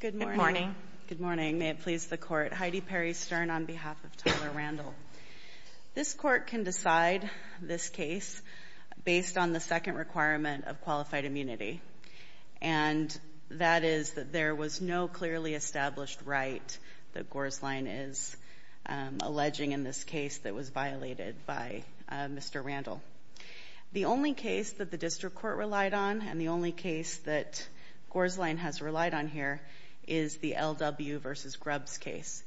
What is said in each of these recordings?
Good morning. Good morning. May it please the court. Heidi Perry Stern on behalf of Tyler Randall. This court can decide this case based on the second requirement of qualified immunity and that is that there was no clearly established right that Gorsline is alleging in this case that was violated by Mr. Randall. The only case that the district court relied on and the only case that Gorsline has relied on here is the LW v. Grubbs case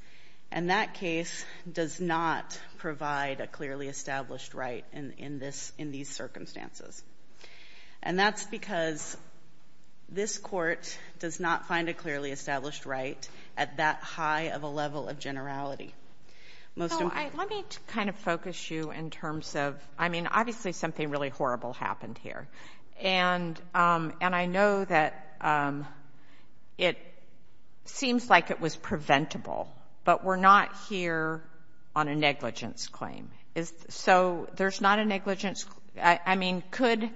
and that case does not provide a clearly established right in these circumstances and that's because this court does not find a clearly established right at that high of a level of generality. Let me kind of focus you in terms of, I mean, obviously something really horrible happened here and I know that it seems like it was preventable, but we're not here on a negligence claim. So there's not a negligence, I mean, could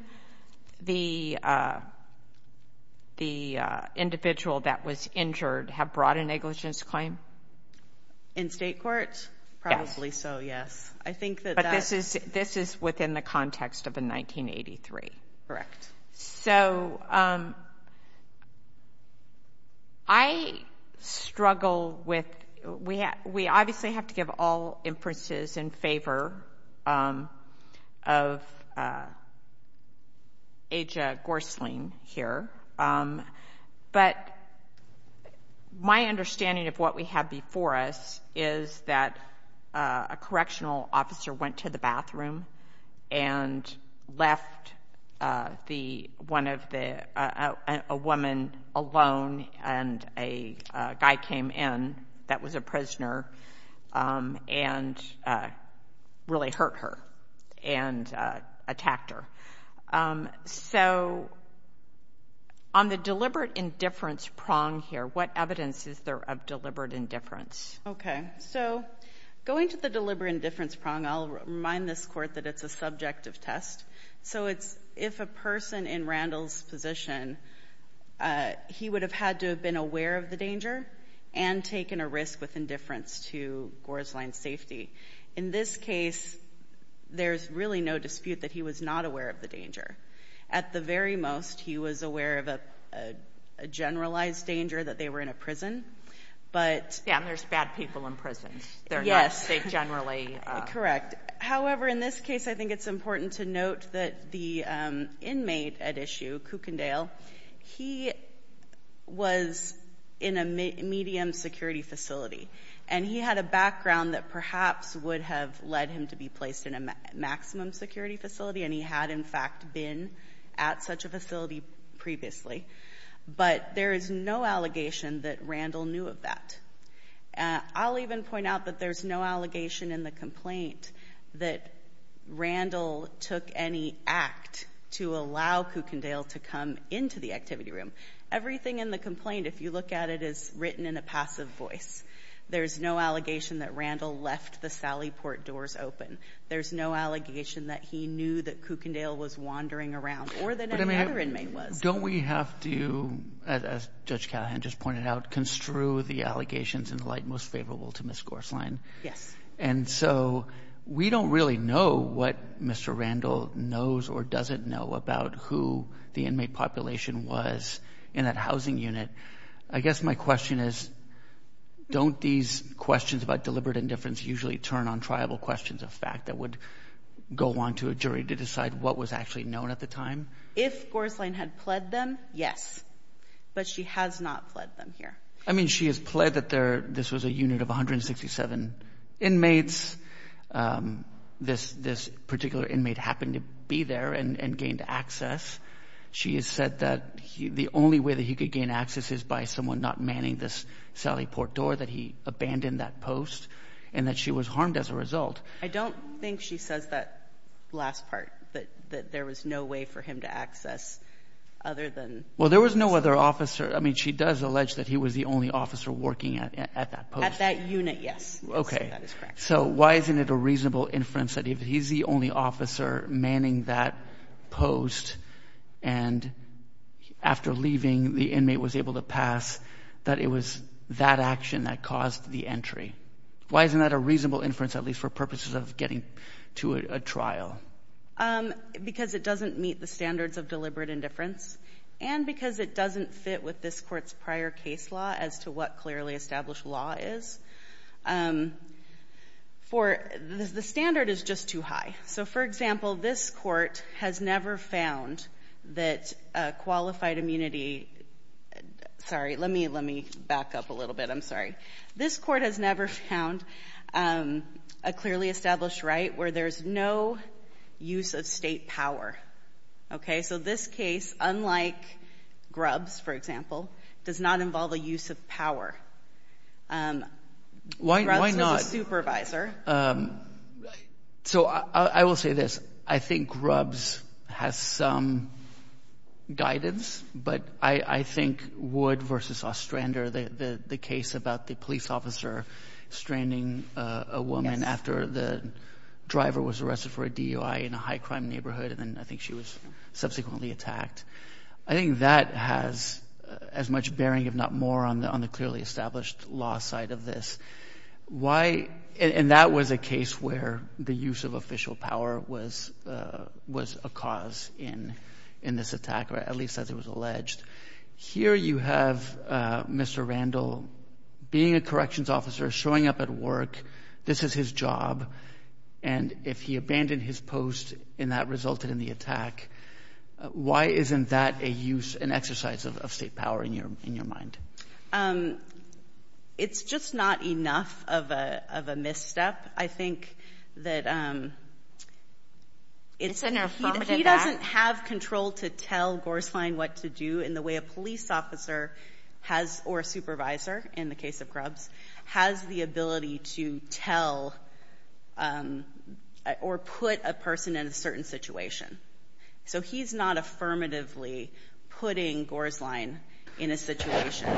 the individual that was injured have brought a negligence claim? In state courts? Probably so, yes. I think that this is within the context of a 1983. Correct. So I struggle with, we obviously have to give all inferences in favor of Aja Gorsline here, but my and left a woman alone and a guy came in that was a prisoner and really hurt her and attacked her. So on the deliberate indifference prong here, what evidence is there of deliberate indifference? Okay, so going to the this court that it's a subjective test. So it's if a person in Randall's position, he would have had to have been aware of the danger and taken a risk with indifference to Gorsline's safety. In this case, there's really no dispute that he was not aware of the danger. At the very most, he was aware of a generalized danger that they were in a prison, but... Yeah, there's bad people in prisons. Yes. They generally... Correct. However, in this case, I think it's important to note that the inmate at issue, Kukendale, he was in a medium security facility, and he had a background that perhaps would have led him to be placed in a maximum security facility, and he had in fact been at such a facility previously. But there is no allegation that Randall knew of that. I'll even point out that there's no allegation in the complaint that Randall took any act to allow Kukendale to come into the activity room. Everything in the complaint, if you look at it, is written in a passive voice. There's no allegation that Randall left the Sally Port doors open. There's no allegation that he knew that Kukendale was wandering around or that another inmate was. Don't we have to, as Judge Callahan just pointed out, construe the allegations in light most favorable to Ms. Gorslein? Yes. And so, we don't really know what Mr. Randall knows or doesn't know about who the inmate population was in that housing unit. I guess my question is, don't these questions about deliberate indifference usually turn on tribal questions of fact that would go on to a Yes. But she has not pled them here. I mean, she has pled that there, this was a unit of 167 inmates. This particular inmate happened to be there and gained access. She has said that the only way that he could gain access is by someone not manning this Sally Port door, that he abandoned that post, and that she was harmed as a result. I don't think she says that last part, that there was no way for him to access other than... Well, there was no other officer. I mean, she does allege that he was the only officer working at that post. At that unit, yes. Okay. So, why isn't it a reasonable inference that if he's the only officer manning that post and after leaving, the inmate was able to pass, that it was that action that caused the entry? Why isn't that a reasonable inference, at least for purposes of getting to a trial? Because it doesn't meet the standards of deliberate indifference and because it doesn't fit with this court's prior case law as to what clearly established law is. The standard is just too high. So, for example, this court has never found that a qualified immunity... Sorry, let me back up a little bit. I'm sorry. This court has never found a clearly established right where there's no use of state power. Okay. So, this case, unlike Grubbs, for example, does not involve a use of power. Why not? Grubbs was a supervisor. So, I will say this. I think Grubbs has some guidance, but I think Wood versus Ostrander, the case about the police officer stranding a woman after the driver was arrested for a DUI in a high crime neighborhood, and then I think she was subsequently attacked. I think that has as much bearing, if not more, on the clearly established law side of this. Why? And that was a case where the use of official power was a cause in this attack, or at least as it was alleged. Here you have Mr. Randall being a corrections officer, showing up at work. This is his job. And if he abandoned his post, and that resulted in the attack, why isn't that a use, an exercise of state power in your mind? It's just not enough of a misstep. I think that he doesn't have control to tell Gorslein what to do in the way a police officer has, or a supervisor in the case of Grubbs, has the ability to tell or put a person in a certain situation. So he's not affirmatively putting Gorslein in a situation.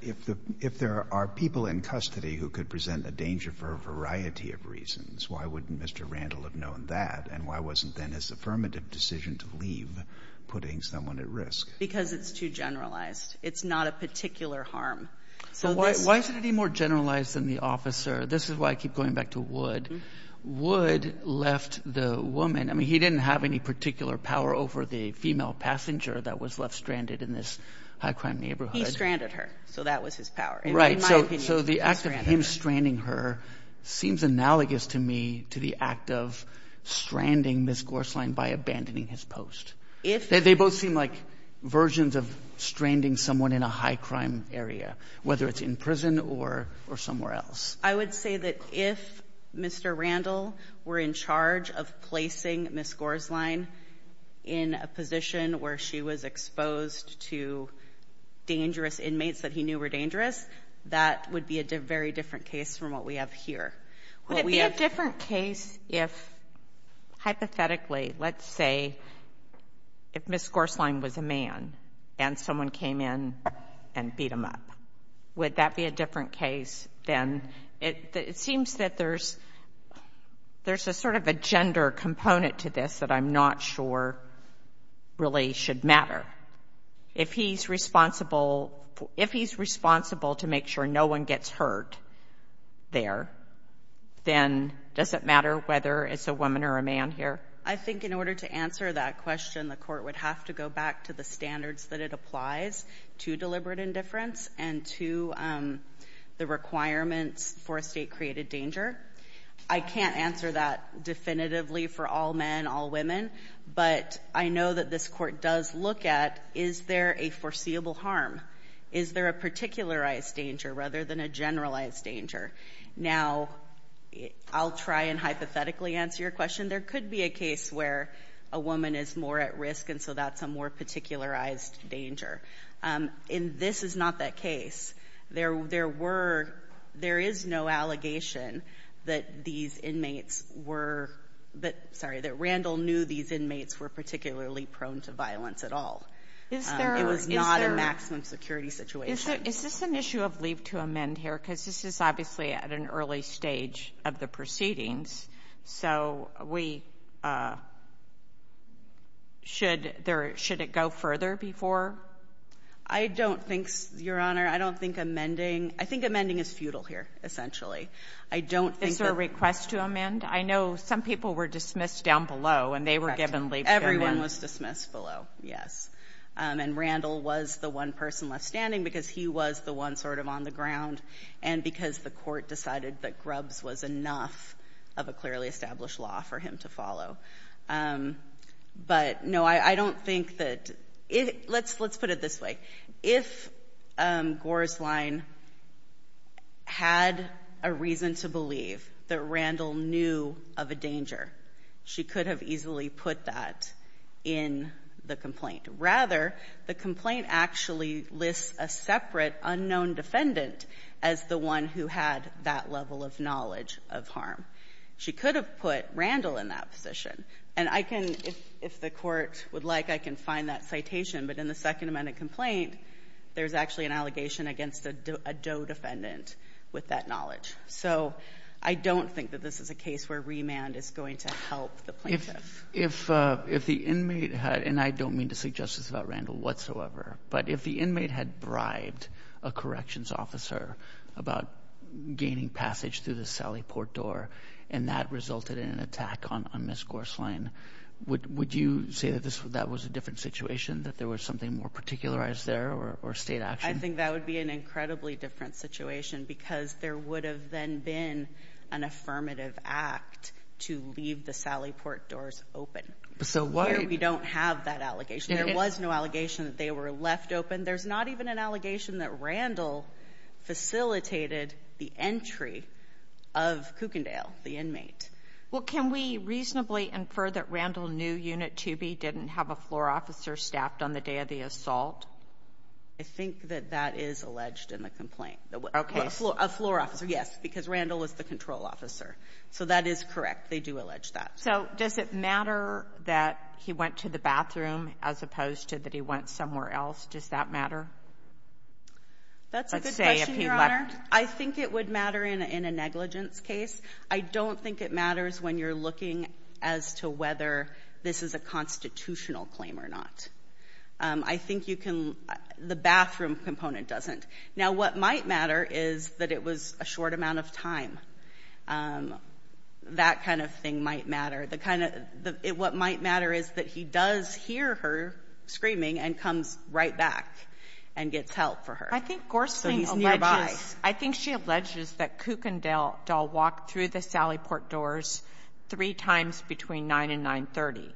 If there are people in custody who could present a danger for a variety of reasons, why wouldn't Mr. Randall have known that? And why wasn't then his affirmative decision to leave putting someone at risk? Because it's too generalized. It's not a particular harm. Why is it any more generalized than the officer? This is why I keep going back to Wood. Wood left the woman. I mean, he didn't have any particular power over the female passenger that was left stranded in this high crime neighborhood. He stranded her. So that was his power. Right. So the act of him stranding her seems analogous to me to the act of stranding Ms. Gorslein by abandoning his post. They both seem like versions of stranding someone in a high crime area, whether it's in prison or somewhere else. I would say that if Mr. Randall were in charge of placing Ms. Gorslein in a position where she was exposed to dangerous inmates that he knew were dangerous, that would be a very different case from what we have here. Would it be a different case if, hypothetically, let's say if Ms. Gorslein was a man and someone came in and beat him up? Would that be a different case then? It seems that there's a sort of a gender component to this that I'm not sure really should matter. If he's responsible to make sure no one gets hurt there, then does it matter whether it's a woman or a man here? I think in order to answer that question, the court would have to go back to the standards that it applies to deliberate indifference and to the requirements for a state-created danger. I can't answer that definitively for all men, all women, but I know that this court does look at is there a foreseeable harm? Is there a particularized danger rather than a generalized danger? Now, I'll try and hypothetically answer your question. There could be a case where a woman is more at risk, and so that's a more particularized danger. And this is not that case. There is no allegation that these inmates were — sorry, that Randall knew these inmates were particularly prone to violence at all. It was not a maximum security situation. Is this an issue of leave to amend here? Because this is obviously at an early stage of the proceedings, so we — should there — should it go further before? I don't think — Your Honor, I don't think amending — I think amending is futile here, essentially. I don't think that — Is there a request to amend? I know some people were dismissed down below, and they were given leave to amend. Everyone was dismissed below, yes. And Randall was the one person left standing, he was the one sort of on the ground, and because the court decided that Grubbs was enough of a clearly established law for him to follow. But, no, I don't think that — let's put it this way. If Gorsline had a reason to believe that Randall knew of a danger, she could have easily put that in the complaint. Rather, the complaint actually lists a separate unknown defendant as the one who had that level of knowledge of harm. She could have put Randall in that position. And I can — if the Court would like, I can find that citation. But in the Second Amendment complaint, there's actually an allegation against a DOE defendant with that knowledge. So I don't think that this is a case where remand is going to help the plaintiff. If the inmate had — and I don't mean to say justice about Randall whatsoever, but if the inmate had bribed a corrections officer about gaining passage through the Sally Port door, and that resulted in an attack on Ms. Gorsline, would you say that that was a different situation, that there was something more particularized there, or state action? I think that would be an incredibly different situation, because there would have then been an affirmative act to leave the Sally Port doors open. So why — We don't have that allegation. There was no allegation that they were left open. There's not even an allegation that Randall facilitated the entry of Kukendale, the inmate. Well, can we reasonably infer that Randall knew Unit 2B didn't have a floor officer staffed on the day of the assault? I think that that is alleged in the complaint. Okay. A floor officer, yes, because Randall was the control officer. So that is correct. They do allege that. So does it matter that he went to the bathroom as opposed to that he went somewhere else? Does that matter? That's a good question, Your Honor. I think it would matter in a negligence case. I don't think it matters when you're looking as to whether this is a constitutional claim or not. I think you can — the might matter is that it was a short amount of time. That kind of thing might matter. The kind of — what might matter is that he does hear her screaming and comes right back and gets help for her. I think Gorsling alleges — So he's nearby. I think she alleges that Kukendale doll walked through the Sally Port doors three times between 9 and 9.30.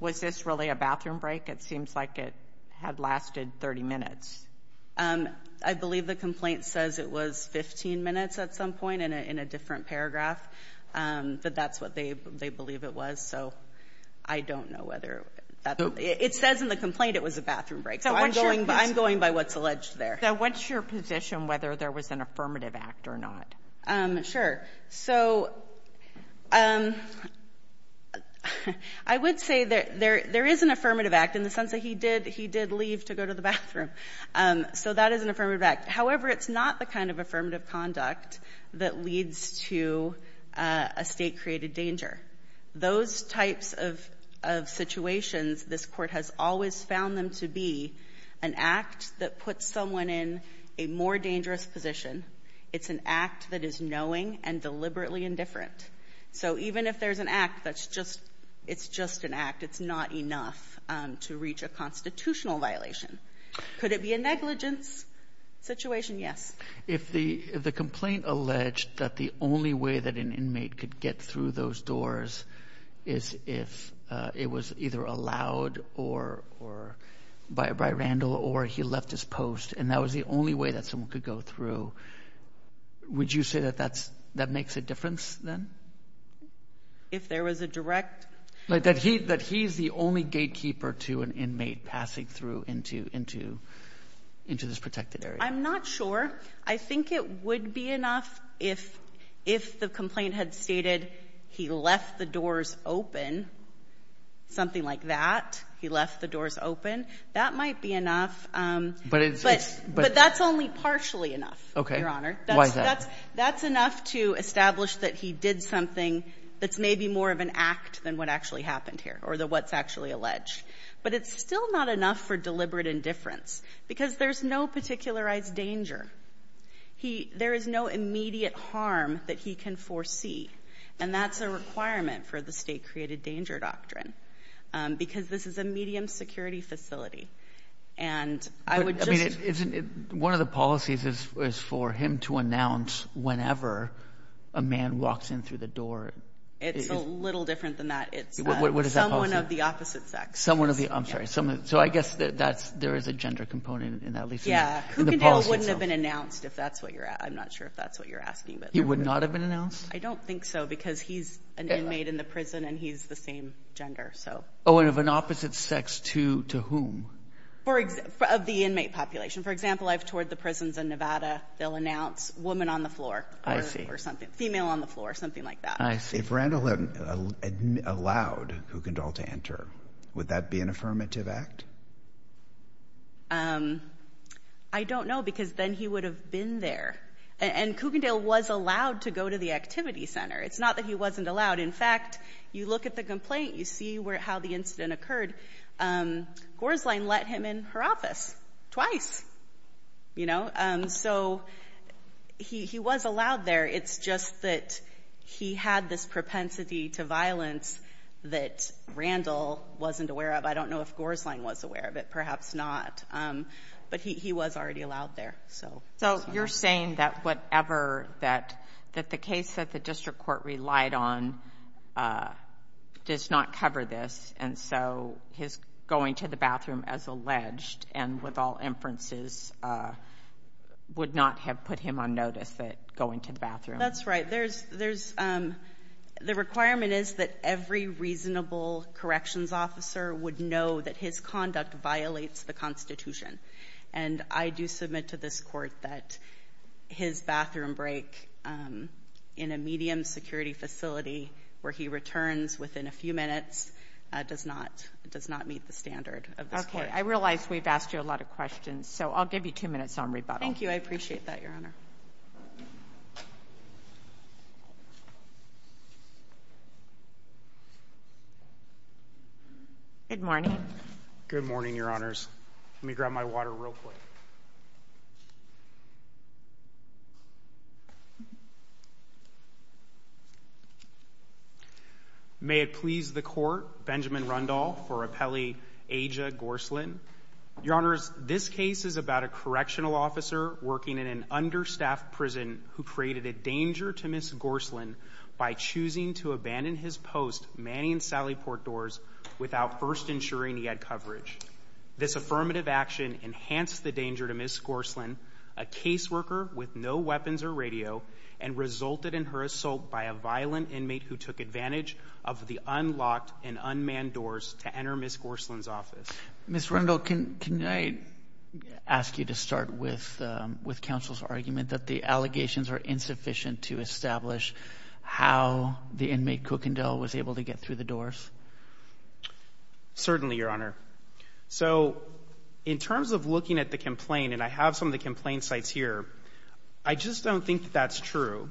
Was this really a bathroom break? It seems like it had lasted 30 minutes. I believe the complaint says it was 15 minutes at some point in a different paragraph, but that's what they believe it was. So I don't know whether that's — it says in the complaint it was a bathroom break. So I'm going by what's alleged there. Now, what's your position whether there was an affirmative act or not? Sure. So I would say that there is an affirmative act in the sense that he did leave to go to the bathroom. So that is an affirmative act. However, it's not the kind of affirmative conduct that leads to a State-created danger. Those types of situations this Court has always found them to be an act that puts someone in a more dangerous position. It's an act that is knowing and deliberately indifferent. So even if there's an act that's just — it's just an act, it's not enough to reach a constitutional violation. Could it be a negligence situation? Yes. If the — if the complaint alleged that the only way that an inmate could get through those doors is if it was either allowed or — by Randall or he left his post and that was the only way that someone could go through, would you say that that's — that makes a difference then? If there was a direct — Like that he — that he's the only gatekeeper to an inmate passing through into — into this protected area. I'm not sure. I think it would be enough if the complaint had stated he left the doors open, something like that, he left the doors open. That might be enough. But it's — But that's only partially enough, Your Honor. Okay. Why is that? That's enough to establish that he did something that's maybe more of an act than what actually happened here or what's actually alleged. But it's still not enough for deliberate indifference because there's no particularized danger. He — there is no immediate harm that he can foresee, and that's a requirement for the state-created danger doctrine because this is a medium security facility. And I would just — One of the policies is for him to announce whenever a man walks in through the door. It's a little different than that. It's — What is that policy? Someone of the opposite sex. Someone of the — I'm sorry, someone — so I guess that that's — there is a gender component in that, at least in the policy itself. Yeah. Kukendall wouldn't have been announced if that's what you're — I'm not sure if that's what you're asking, but — He would not have been announced? I don't think so because he's an inmate in the prison and he's the same gender, so — Oh, and of an opposite sex to whom? For — of the inmate population. For example, I've toured the prisons in Nevada. They'll announce woman on the floor. I see. Or something — female on the floor, something like that. I see. If Randall had allowed Kukendall to enter, would that be an affirmative act? I don't know because then he would have been there. And Kukendall was allowed to go to the activity center. It's not that he wasn't allowed. In fact, you look at the complaint, you see where — how the incident occurred. Gorslein let him in her office twice, you know? So he was allowed there. It's just that he had this propensity to violence that Randall wasn't aware of. I don't know if Gorslein was aware of it, perhaps not. But he was already allowed there, so — So you're saying that whatever that — that the case that the district court relied on does not cover this, and so his going to the bathroom as alleged, and with all inferences, would not have put him on notice, that going to the bathroom? That's right. There's — the requirement is that every reasonable corrections officer would know that his conduct violates the Constitution. And I do submit to this Court that his bathroom break in a medium-security facility where he returns within a few minutes does not — does not meet the standard of this Court. Okay. I realize we've asked you a lot of questions, so I'll give you two minutes on rebuttal. Thank you. I appreciate that, Your Honor. Good morning. Good morning, Your Honors. Let me grab my water real quick. Thank you. May it please the Court, Benjamin Rundall for Appellee Aja Gorslein. Your Honors, this case is about a correctional officer working in an understaffed prison who created a danger to Ms. Gorslein by choosing to abandon his post, Manning and Sallyport Doors, without first ensuring he had coverage. This affirmative action enhanced the danger to Ms. Gorslein, a caseworker with no weapons or radio, and resulted in her assault by a violent inmate who took advantage of the unlocked and unmanned doors to enter Ms. Gorslein's office. Ms. Rundall, can I ask you to start with counsel's argument that the allegations are insufficient to establish how the inmate Kukendall was able to get through the doors? Certainly, Your Honor. So in terms of looking at the complaint, and I have some of the complaint sites here, I just don't think that that's true.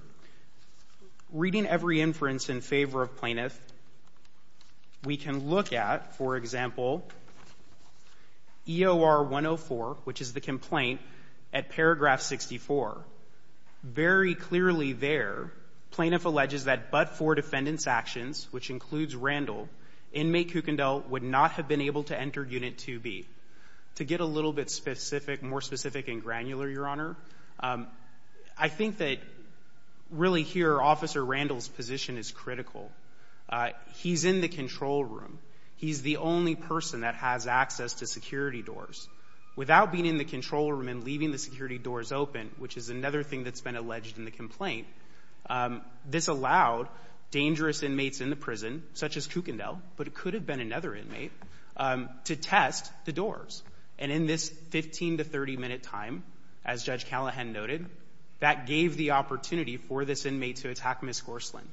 Reading every inference in favor of plaintiff, we can look at, for example, EOR 104, which is the complaint, at paragraph 64. Very clearly there, plaintiff alleges that but for defendants' actions, which includes Randall, inmate Kukendall would not have been able to enter Unit 2B. To get a little bit specific, more specific and granular, Your Honor, I think that really here, Officer Randall's position is critical. He's in the control room. He's the only person that has access to security doors. Without being in the control room and leaving the security doors open, which is another thing that's been alleged in the complaint, this allowed dangerous inmates in the prison, such as Kukendall, but it could have been another inmate, to test the doors. And in this 15- to 30-minute time, as Judge Callahan noted, that gave the opportunity for this inmate to attack Ms. Gorslin.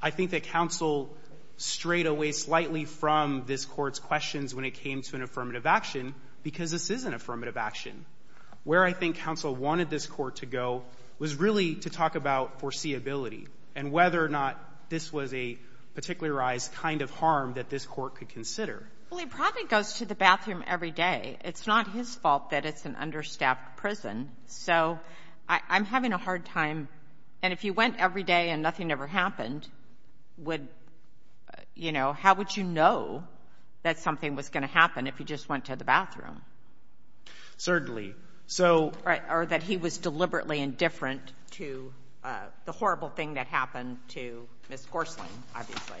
I think that counsel strayed away slightly from this Court's questions when it came to an affirmative action, because this is an affirmative action. Where I think counsel wanted this Court to go was really to talk about foreseeability and whether or not this was a particularized kind of harm that this Court could consider. Well, he probably goes to the bathroom every day. It's not his fault that it's an understaffed prison. So I'm having a hard time. And if you went every day and nothing ever happened, how would you know that something was going to happen if you just went to the bathroom? Certainly. Or that he was deliberately indifferent to the horrible thing that happened to Ms. Gorslin, obviously.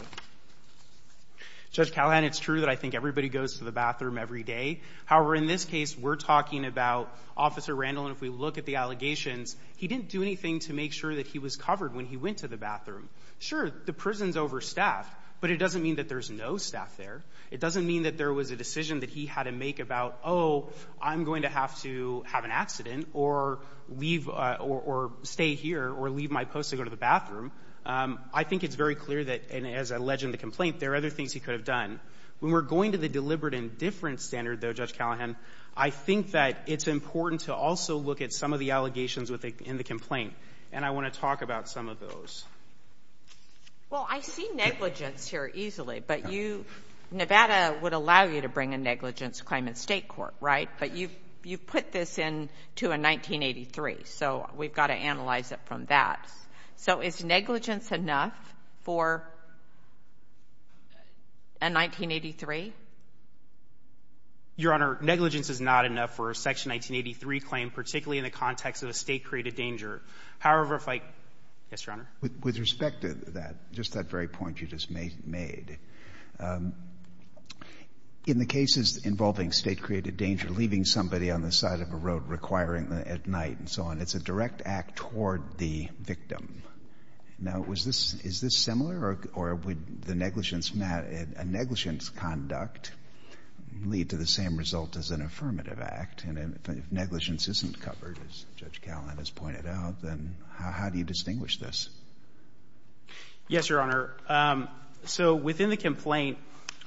Judge Callahan, it's true that I think everybody goes to the bathroom every day. However, in this case, we're talking about Officer Randall, and if we look at the allegations, he didn't do anything to make sure that he was covered when he went to the bathroom. Sure, the prison's overstaffed, but it doesn't mean that there's no staff there. It doesn't mean that there was a decision that he had to make about, oh, I'm going to have to have an accident or leave or stay here or leave my post to go to the bathroom. I think it's very clear that, as alleged in the complaint, there are other things he could have done. When we're going to the deliberate indifference standard, though, Judge Callahan, I think that it's important to also look at some of the allegations in the complaint, and I want to talk about some of those. Well, I see negligence here easily, but you, Nevada would allow you to bring a negligence claim in state court, right? But you've put this into a 1983, so we've got to analyze it from that. So is negligence enough for a 1983? Your Honor, negligence is not enough for a Section 1983 claim, particularly in the context of a state-created danger. However, if I, yes, Your Honor? With respect to that, just that very point you just made, in the cases involving state-created danger, leaving somebody on the side of a road, requiring at night and so on, it's a direct act toward the victim. Now, is this similar, or would a negligence conduct lead to the same result as an affirmative act? And if negligence isn't covered, as Judge Callahan has pointed out, then how do you distinguish this? Yes, Your Honor. So within the complaint,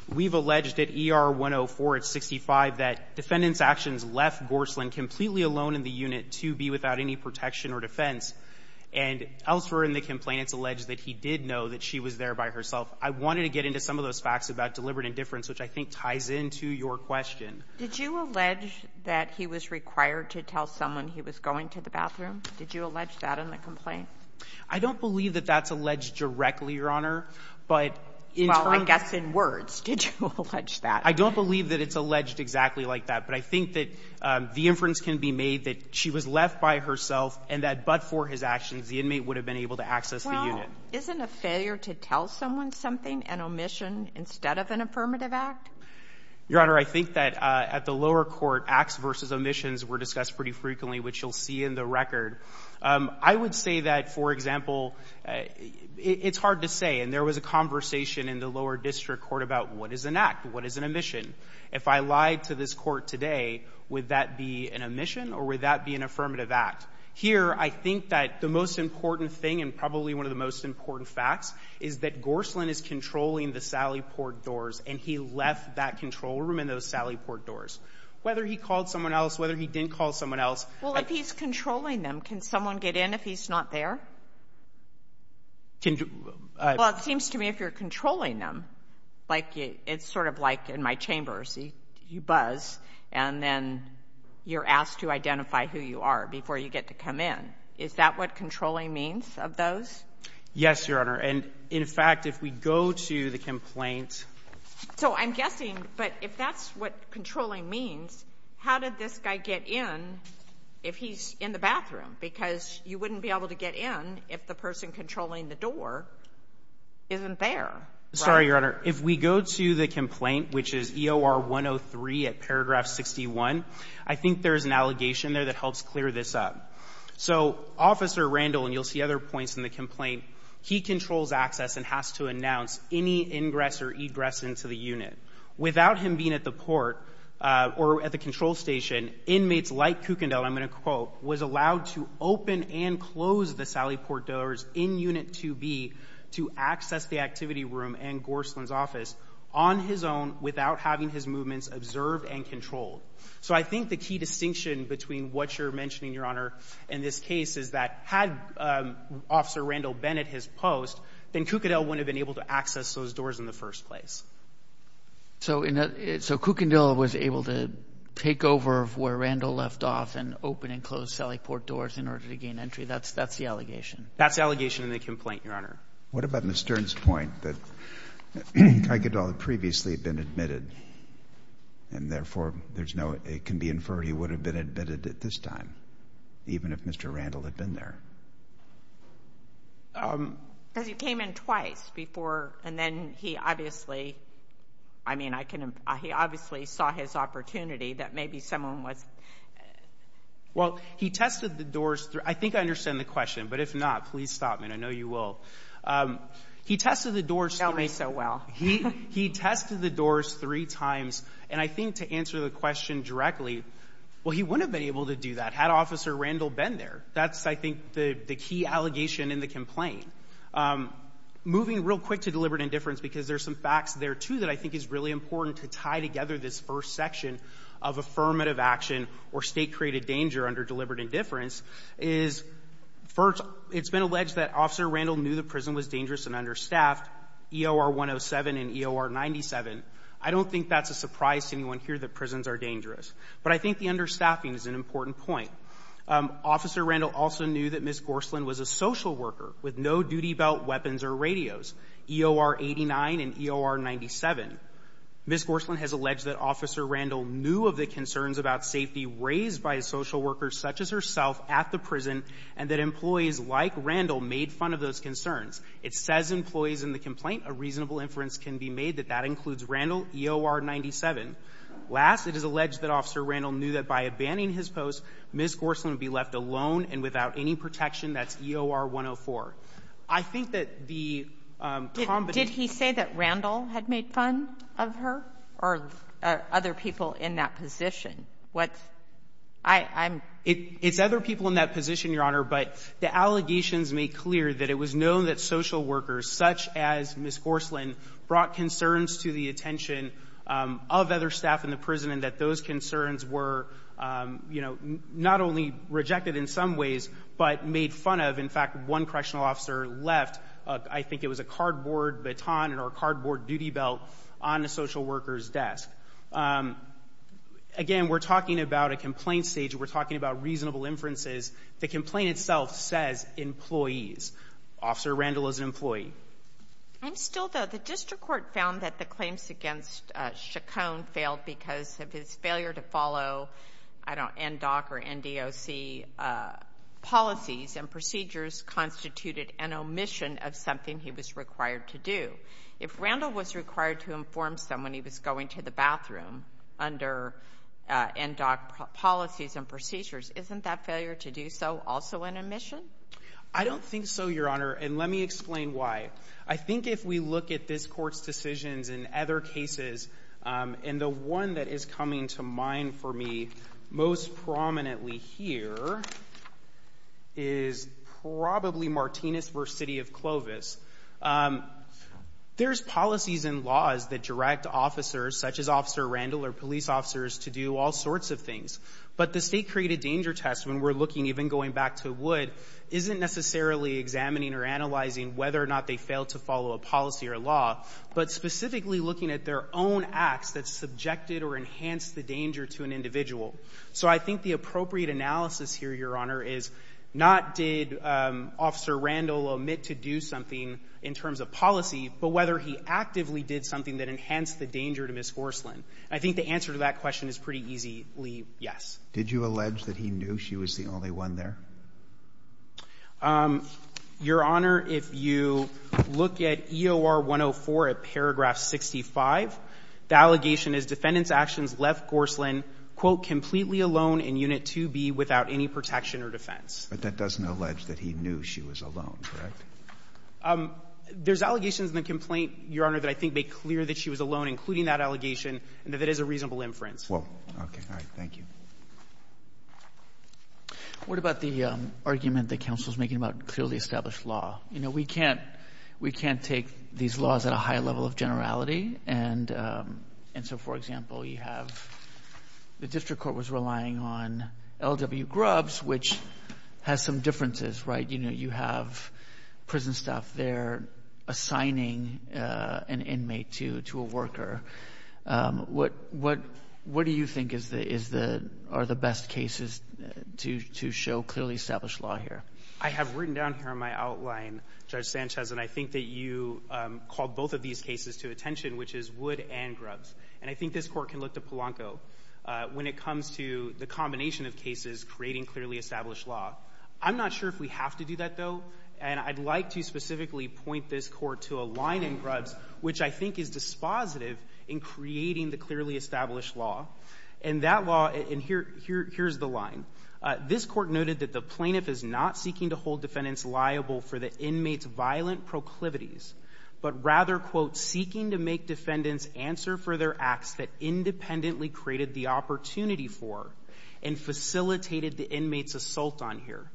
we've alleged at ER 104 at 65 that defendant's actions left Gorsland completely alone in the unit to be without any protection or defense. And elsewhere in the complaint, it's alleged that he did know that she was there by herself. I wanted to get into some of those facts about deliberate indifference, which I think ties into your question. Did you allege that he was required to tell someone he was going to the bathroom? Did you allege that in the complaint? I don't believe that that's alleged directly, Your Honor. But in terms of — Well, I guess in words. Did you allege that? I don't believe that it's alleged exactly like that. But I think that the inference can be made that she was left by herself and that but for his actions, the inmate would have been able to access the unit. Well, isn't a failure to tell someone something an omission instead of an affirmative act? Your Honor, I think that at the lower court, acts versus omissions were discussed pretty frequently, which you'll see in the record. I would say that, for example, it's hard to say. And there was a conversation in the lower district court about what is an act, what is an omission. If I lied to this court today, would that be an omission or would that be an affirmative act? Here, I think that the most important thing and probably one of the most important facts is that Gorslin is controlling the Sally Port doors, and he left that control room and those Sally Port doors. Whether he called someone else, whether he didn't call someone else — Well, if he's controlling them, can someone get in if he's not there? Well, it seems to me if you're controlling them, like it's sort of like in my chambers, you buzz and then you're asked to identify who you are before you get to come in. Is that what controlling means of those? Yes, Your Honor. And in fact, if we go to the complaint — So I'm guessing, but if that's what controlling means, how did this guy get in if he's in the bathroom? Because you wouldn't be able to get in if the person controlling the door isn't there, right? Sorry, Your Honor. If we go to the complaint, which is EOR 103 at paragraph 61, I think there is an allegation there that helps clear this up. So Officer Randall, and you'll see other points in the complaint, he controls access and has to announce any ingress or egress into the unit. Without him being at the port or at the control station, inmates like Kukendall was allowed to open and close the Sally Port doors in Unit 2B to access the activity room and Gorsland's office on his own without having his movements observed and controlled. So I think the key distinction between what you're mentioning, Your Honor, in this case is that had Officer Randall been at his post, then Kukendall wouldn't have been able to access those doors in the first place. So Kukendall was able to take over where Randall left off and open and close Sally Port doors in order to gain entry? That's the allegation? That's the allegation in the complaint, Your Honor. What about Ms. Stern's point that Kukendall had previously been admitted and therefore there's no, it can be inferred he would have been admitted at this time, even if Mr. Randall had been there? Because he came in twice before and then he obviously, I mean, I can, he obviously saw his opportunity that maybe someone was... Well, he tested the doors, I think I understand the question, but if not, please stop me, I know you will. He tested the doors... You know me so well. He tested the doors three times and I think to answer the question directly, well, he wouldn't have been able to do that had Officer Randall been there. That's, I think, the key allegation in the complaint. Moving real quick to deliberate indifference because there's some facts there too that I think is really important to tie together this first section of affirmative action or state-created danger under deliberate indifference is, first, it's been alleged that Officer Randall knew the prison was dangerous and understaffed, EOR 107 and EOR 97. I don't think that's a surprise to anyone here that prisons are dangerous. But I think the understaffing is an important point. Officer Randall also knew that Ms. Gorslund was a social worker with no duty belt, weapons, or radios, EOR 89 and EOR 97. Ms. Gorslund has alleged that Officer Randall knew of the concerns about safety raised by a social worker such as herself at the prison and that employees like Randall made fun of those concerns. It says employees in the complaint, a reasonable inference can be made that that includes Randall, EOR 97. Last, it is alleged that Officer Randall knew that by abandoning his post, Ms. Gorslund would be left alone and without any protection. That's EOR 104. I think that the combination of the allegations made clear that it was known that social workers such as Ms. Gorslund brought concerns to the attention of other staff in the prison and that those concerns were, you know, not only rejected in some ways, but made fun of. In fact, one correctional officer left, I think it was a cardboard baton or a cardboard duty belt on a social worker's desk. Again, we're talking about a complaint stage. We're talking about reasonable inferences. The complaint itself says employees. Officer Randall is an employee. I'm still, though, the district court found that the claims against Chaconne failed because of his failure to follow, I don't know, NDOC or NDOC policies and procedures constituted an omission of something he was required to do. If Randall was required to inform someone he was going to the bathroom under NDOC policies and procedures, isn't that failure to do so also an omission? I don't think so, Your Honor. And let me explain why. I think if we look at this court's decisions in other cases, and the one that is coming to mind for me most prominently here is probably Martinez v. City of Clovis. There's policies and laws that direct officers, such as Officer Randall or police officers, to do all sorts of things. But the state-created danger test, when we're looking, even going back to Wood, isn't necessarily examining or analyzing whether or not they failed to follow a policy or a law, but specifically looking at their own acts that subjected or enhanced the danger to an individual. So I think the appropriate analysis here, Your Honor, is not did Officer Randall omit to do something in terms of policy, but whether he actively did something that enhanced the danger to Ms. Horsland. I think the answer to that question is pretty easily yes. Did you allege that he knew she was the only one there? Your Honor, if you look at EOR 104 at paragraph 65, the allegation is Defendant's actions left Horsland, quote, completely alone in Unit 2B without any protection or defense. But that doesn't allege that he knew she was alone, correct? There's allegations in the complaint, Your Honor, that I think make clear that she was alone, including that allegation, and that that is a reasonable inference. Well, okay. All right. Thank you. What about the argument that counsel's making about clearly established law? You know, we can't take these laws at a high level of generality. And so, for example, you have the district court was relying on L.W. Grubbs, which has some differences, right? You know, you have prison staff there assigning an inmate to a worker. What do you think are the best cases to show clearly established law here? I have written down here on my outline, Judge Sanchez, and I think that you called both of these cases to attention, which is Wood and Grubbs. And I think this Court can look to Polanco when it comes to the combination of cases creating clearly established law. I'm not sure if we have to do that, though. And I'd like to specifically point this Court to a line in Grubbs, which I think is dispositive in creating the clearly established law. And that law — and here's the line. This Court noted that the plaintiff is not seeking to hold defendants liable for the inmate's violent proclivities, but rather, quote, seeking to make defendants answer for their acts that independently created the opportunity for and facilitated the inmate's assault on here.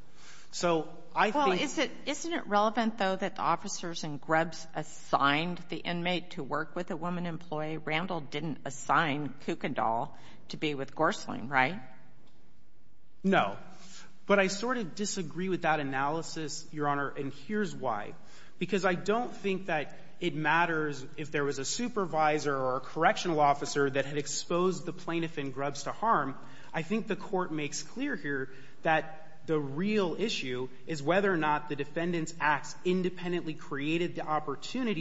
So I think — Well, isn't it relevant, though, that the officers in Grubbs assigned the inmate to work with a woman employee? Randall didn't assign Kuykendall to be with Gorsling, right? No. But I sort of disagree with that analysis, Your Honor, and here's why. Because I don't think that it matters if there was a supervisor or a correctional officer that had exposed the plaintiff in Grubbs to harm. I think the Court makes clear here that the real issue is whether or not the defendant's opportunity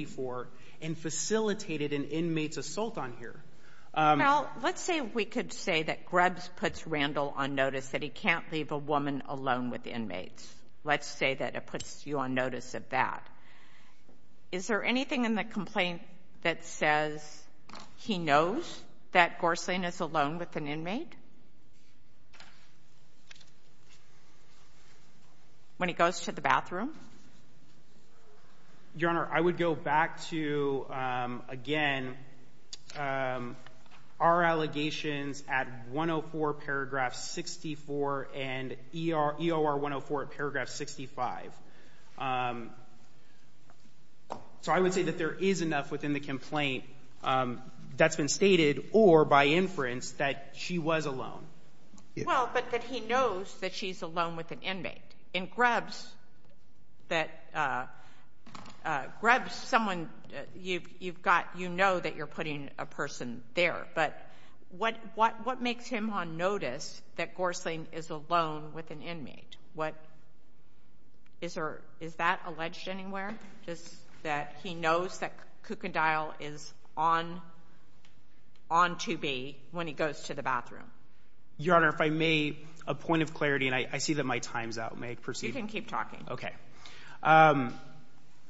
for and facilitated an inmate's assault on here. Now, let's say we could say that Grubbs puts Randall on notice that he can't leave a woman alone with inmates. Let's say that it puts you on notice of that. Is there anything in the complaint that says he knows that Gorsling is alone with an inmate when he goes to the bathroom? Your Honor, I would go back to, again, our allegations at 104 paragraph 64 and EOR 104 at paragraph 65. So I would say that there is enough within the complaint that's been stated or by inference that she was alone. Well, but that he knows that she's alone with an inmate. In Grubbs, that Grubbs, someone you've got, you know that you're putting a person there. But what makes him on notice that Gorsling is alone with an inmate? Is that alleged anywhere? Just that he knows that Kukendall is on to be when he goes to the bathroom? Your Honor, if I may, a point of clarity, and I see that my time's out. May I proceed? You can keep talking. Okay.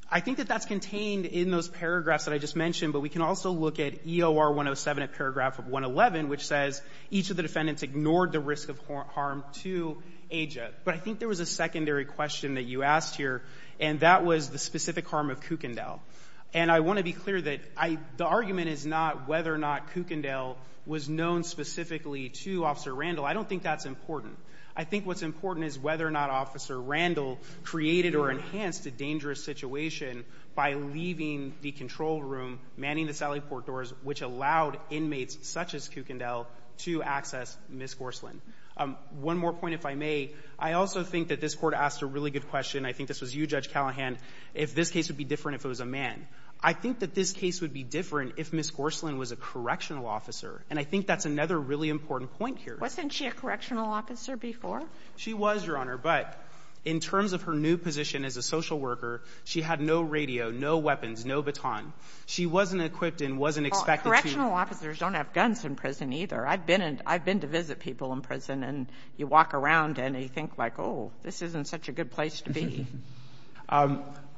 I think that that's contained in those paragraphs that I just mentioned. But we can also look at EOR 107 at paragraph 111, which says each of the defendants ignored the risk of harm to Aja. But I think there was a secondary question that you asked here, and that was the specific harm of Kukendall. And I want to be clear that the argument is not whether or not Kukendall was known specifically to Officer Randall. I don't think that's important. I think what's important is whether or not Officer Randall created or enhanced a dangerous situation by leaving the control room, manning the sally port doors, which allowed inmates such as Kukendall to access Ms. Gorsling. One more point, if I may. I also think that this Court asked a really good question. I think this was you, Judge Callahan, if this case would be different if it was a man. I think that this case would be different if Ms. Gorsling was a correctional officer. And I think that's another really important point here. Wasn't she a correctional officer before? She was, Your Honor. But in terms of her new position as a social worker, she had no radio, no weapons, no baton. She wasn't equipped and wasn't expected to be. Well, correctional officers don't have guns in prison, either. I've been in — I've been to visit people in prison, and you walk around and you think, like, oh, this isn't such a good place to be.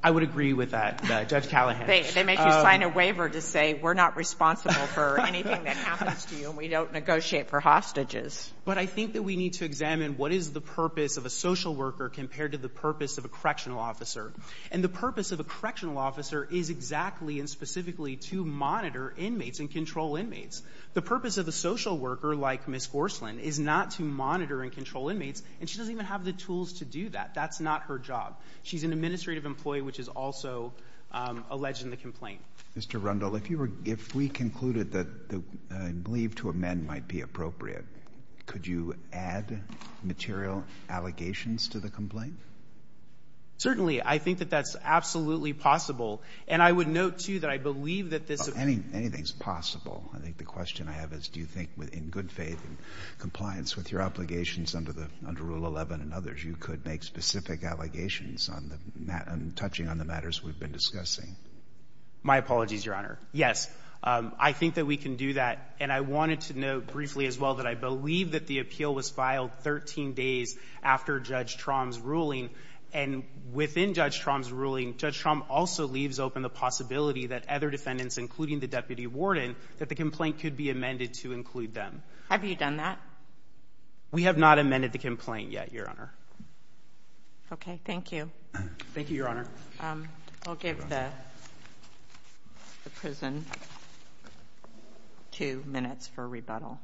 I would agree with that, Judge Callahan. They make you sign a waiver to say we're not responsible for anything that happens to you and we don't negotiate for hostages. But I think that we need to examine what is the purpose of a social worker compared to the purpose of a correctional officer. And the purpose of a correctional officer is exactly and specifically to monitor inmates and control inmates. The purpose of a social worker like Ms. Gorsling is not to monitor and control inmates, and she doesn't even have the tools to do that. That's not her job. She's an administrative employee, which is also alleged in the complaint. Mr. Rundle, if you were — if we concluded that the — I believe to amend might be appropriate, could you add material allegations to the complaint? Certainly. I think that that's absolutely possible. And I would note, too, that I believe that this — Anything is possible. I think the question I have is do you think, in good faith and compliance with your obligations under the — under Rule 11 and others, you could make specific allegations on the — touching on the matters we've been discussing? My apologies, Your Honor. Yes, I think that we can do that. And I wanted to note briefly as well that I believe that the appeal was filed 13 days after Judge Trom's ruling. And within Judge Trom's ruling, Judge Trom also leaves open the possibility that other defendants, including the deputy warden, that the complaint could be amended to include them. Have you done that? We have not amended the complaint yet, Your Honor. Okay. Thank you. Thank you, Your Honor. I'll give the prison two minutes for rebuttal.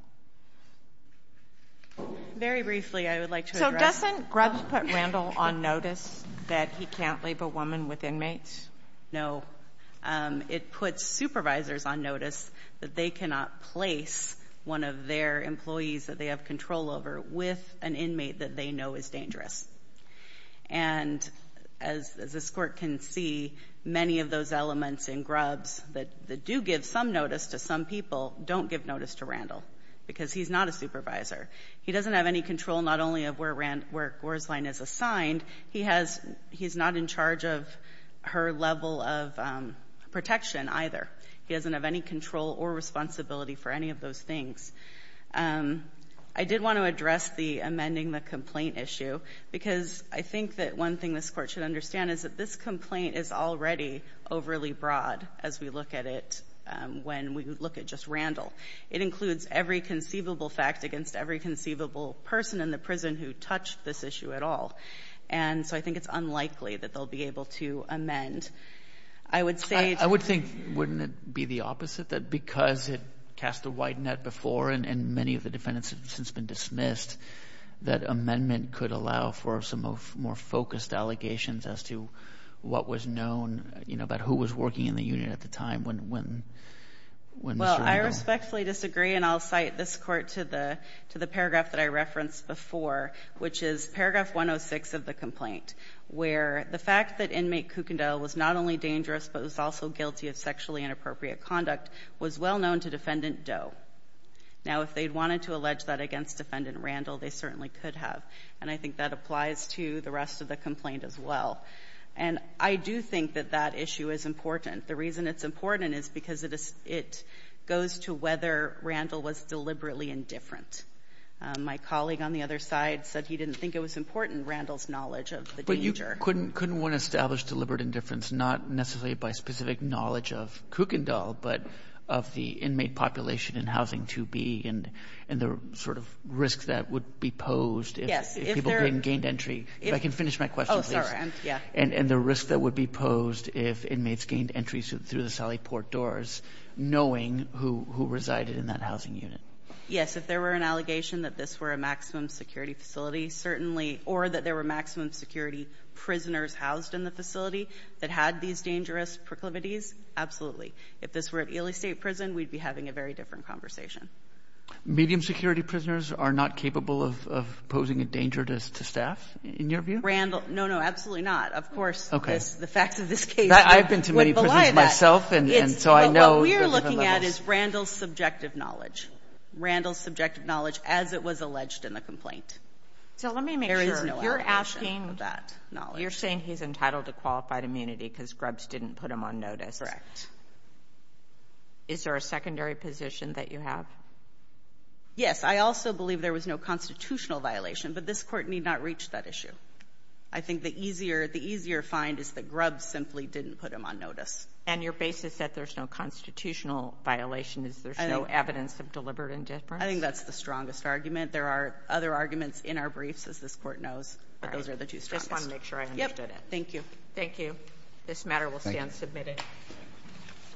Very briefly, I would like to address — So doesn't Grubbs put Randall on notice that he can't leave a woman with inmates? No. It puts supervisors on notice that they cannot place one of their employees that they have control over with an inmate that they know is dangerous. And as this Court can see, many of those elements in Grubbs that do give some notice to some people don't give notice to Randall because he's not a supervisor. He doesn't have any control not only of where Gorslein is assigned. He has — he's not in charge of her level of protection either. He doesn't have any control or responsibility for any of those things. I did want to address the amending the complaint issue because I think that one thing this Court should understand is that this complaint is already overly broad as we look at it when we look at just Randall. It includes every conceivable fact against every conceivable person in the prison who touched this issue at all. And so I think it's unlikely that they'll be able to amend. I would say — Wouldn't it be the opposite that because it cast a wide net before and many of the defendants have since been dismissed, that amendment could allow for some more focused allegations as to what was known, you know, about who was working in the union at the time when Mr. Randall — Well, I respectfully disagree, and I'll cite this Court to the paragraph that I referenced before, which is paragraph 106 of the complaint, where the fact that inmate Kukendall was not dangerous but was also guilty of sexually inappropriate conduct was well known to Defendant Doe. Now, if they'd wanted to allege that against Defendant Randall, they certainly could have. And I think that applies to the rest of the complaint as well. And I do think that that issue is important. The reason it's important is because it goes to whether Randall was deliberately indifferent. My colleague on the other side said he didn't think it was important, Randall's knowledge of the danger. Couldn't one establish deliberate indifference, not necessarily by specific knowledge of Kukendall, but of the inmate population in Housing 2B and the sort of risk that would be posed if people didn't gain entry? If I can finish my question, please. Oh, sorry, yeah. And the risk that would be posed if inmates gained entry through the Sally Port doors, knowing who resided in that housing unit? Yes, if there were an allegation that this were a maximum security facility, certainly, or that there were maximum security prisoners housed in the facility that had these dangerous proclivities, absolutely. If this were at Ely State Prison, we'd be having a very different conversation. Medium security prisoners are not capable of posing a danger to staff, in your view? Randall, no, no, absolutely not. Of course, the facts of this case would belay that. I've been to many prisons myself, and so I know there's different levels. But what we're looking at is Randall's subjective knowledge, Randall's subjective knowledge as it was alleged in the complaint. So let me make sure. There is no allegation of that knowledge. You're saying he's entitled to qualified immunity because Grubbs didn't put him on notice. Correct. Is there a secondary position that you have? Yes, I also believe there was no constitutional violation, but this court need not reach that issue. I think the easier find is that Grubbs simply didn't put him on notice. And your basis that there's no constitutional violation is there's no evidence of deliberate indifference? I think that's the strongest argument. There are other arguments in our briefs, as this court knows, but those are the two strongest. Thank you. Thank you. This matter will stand submitted.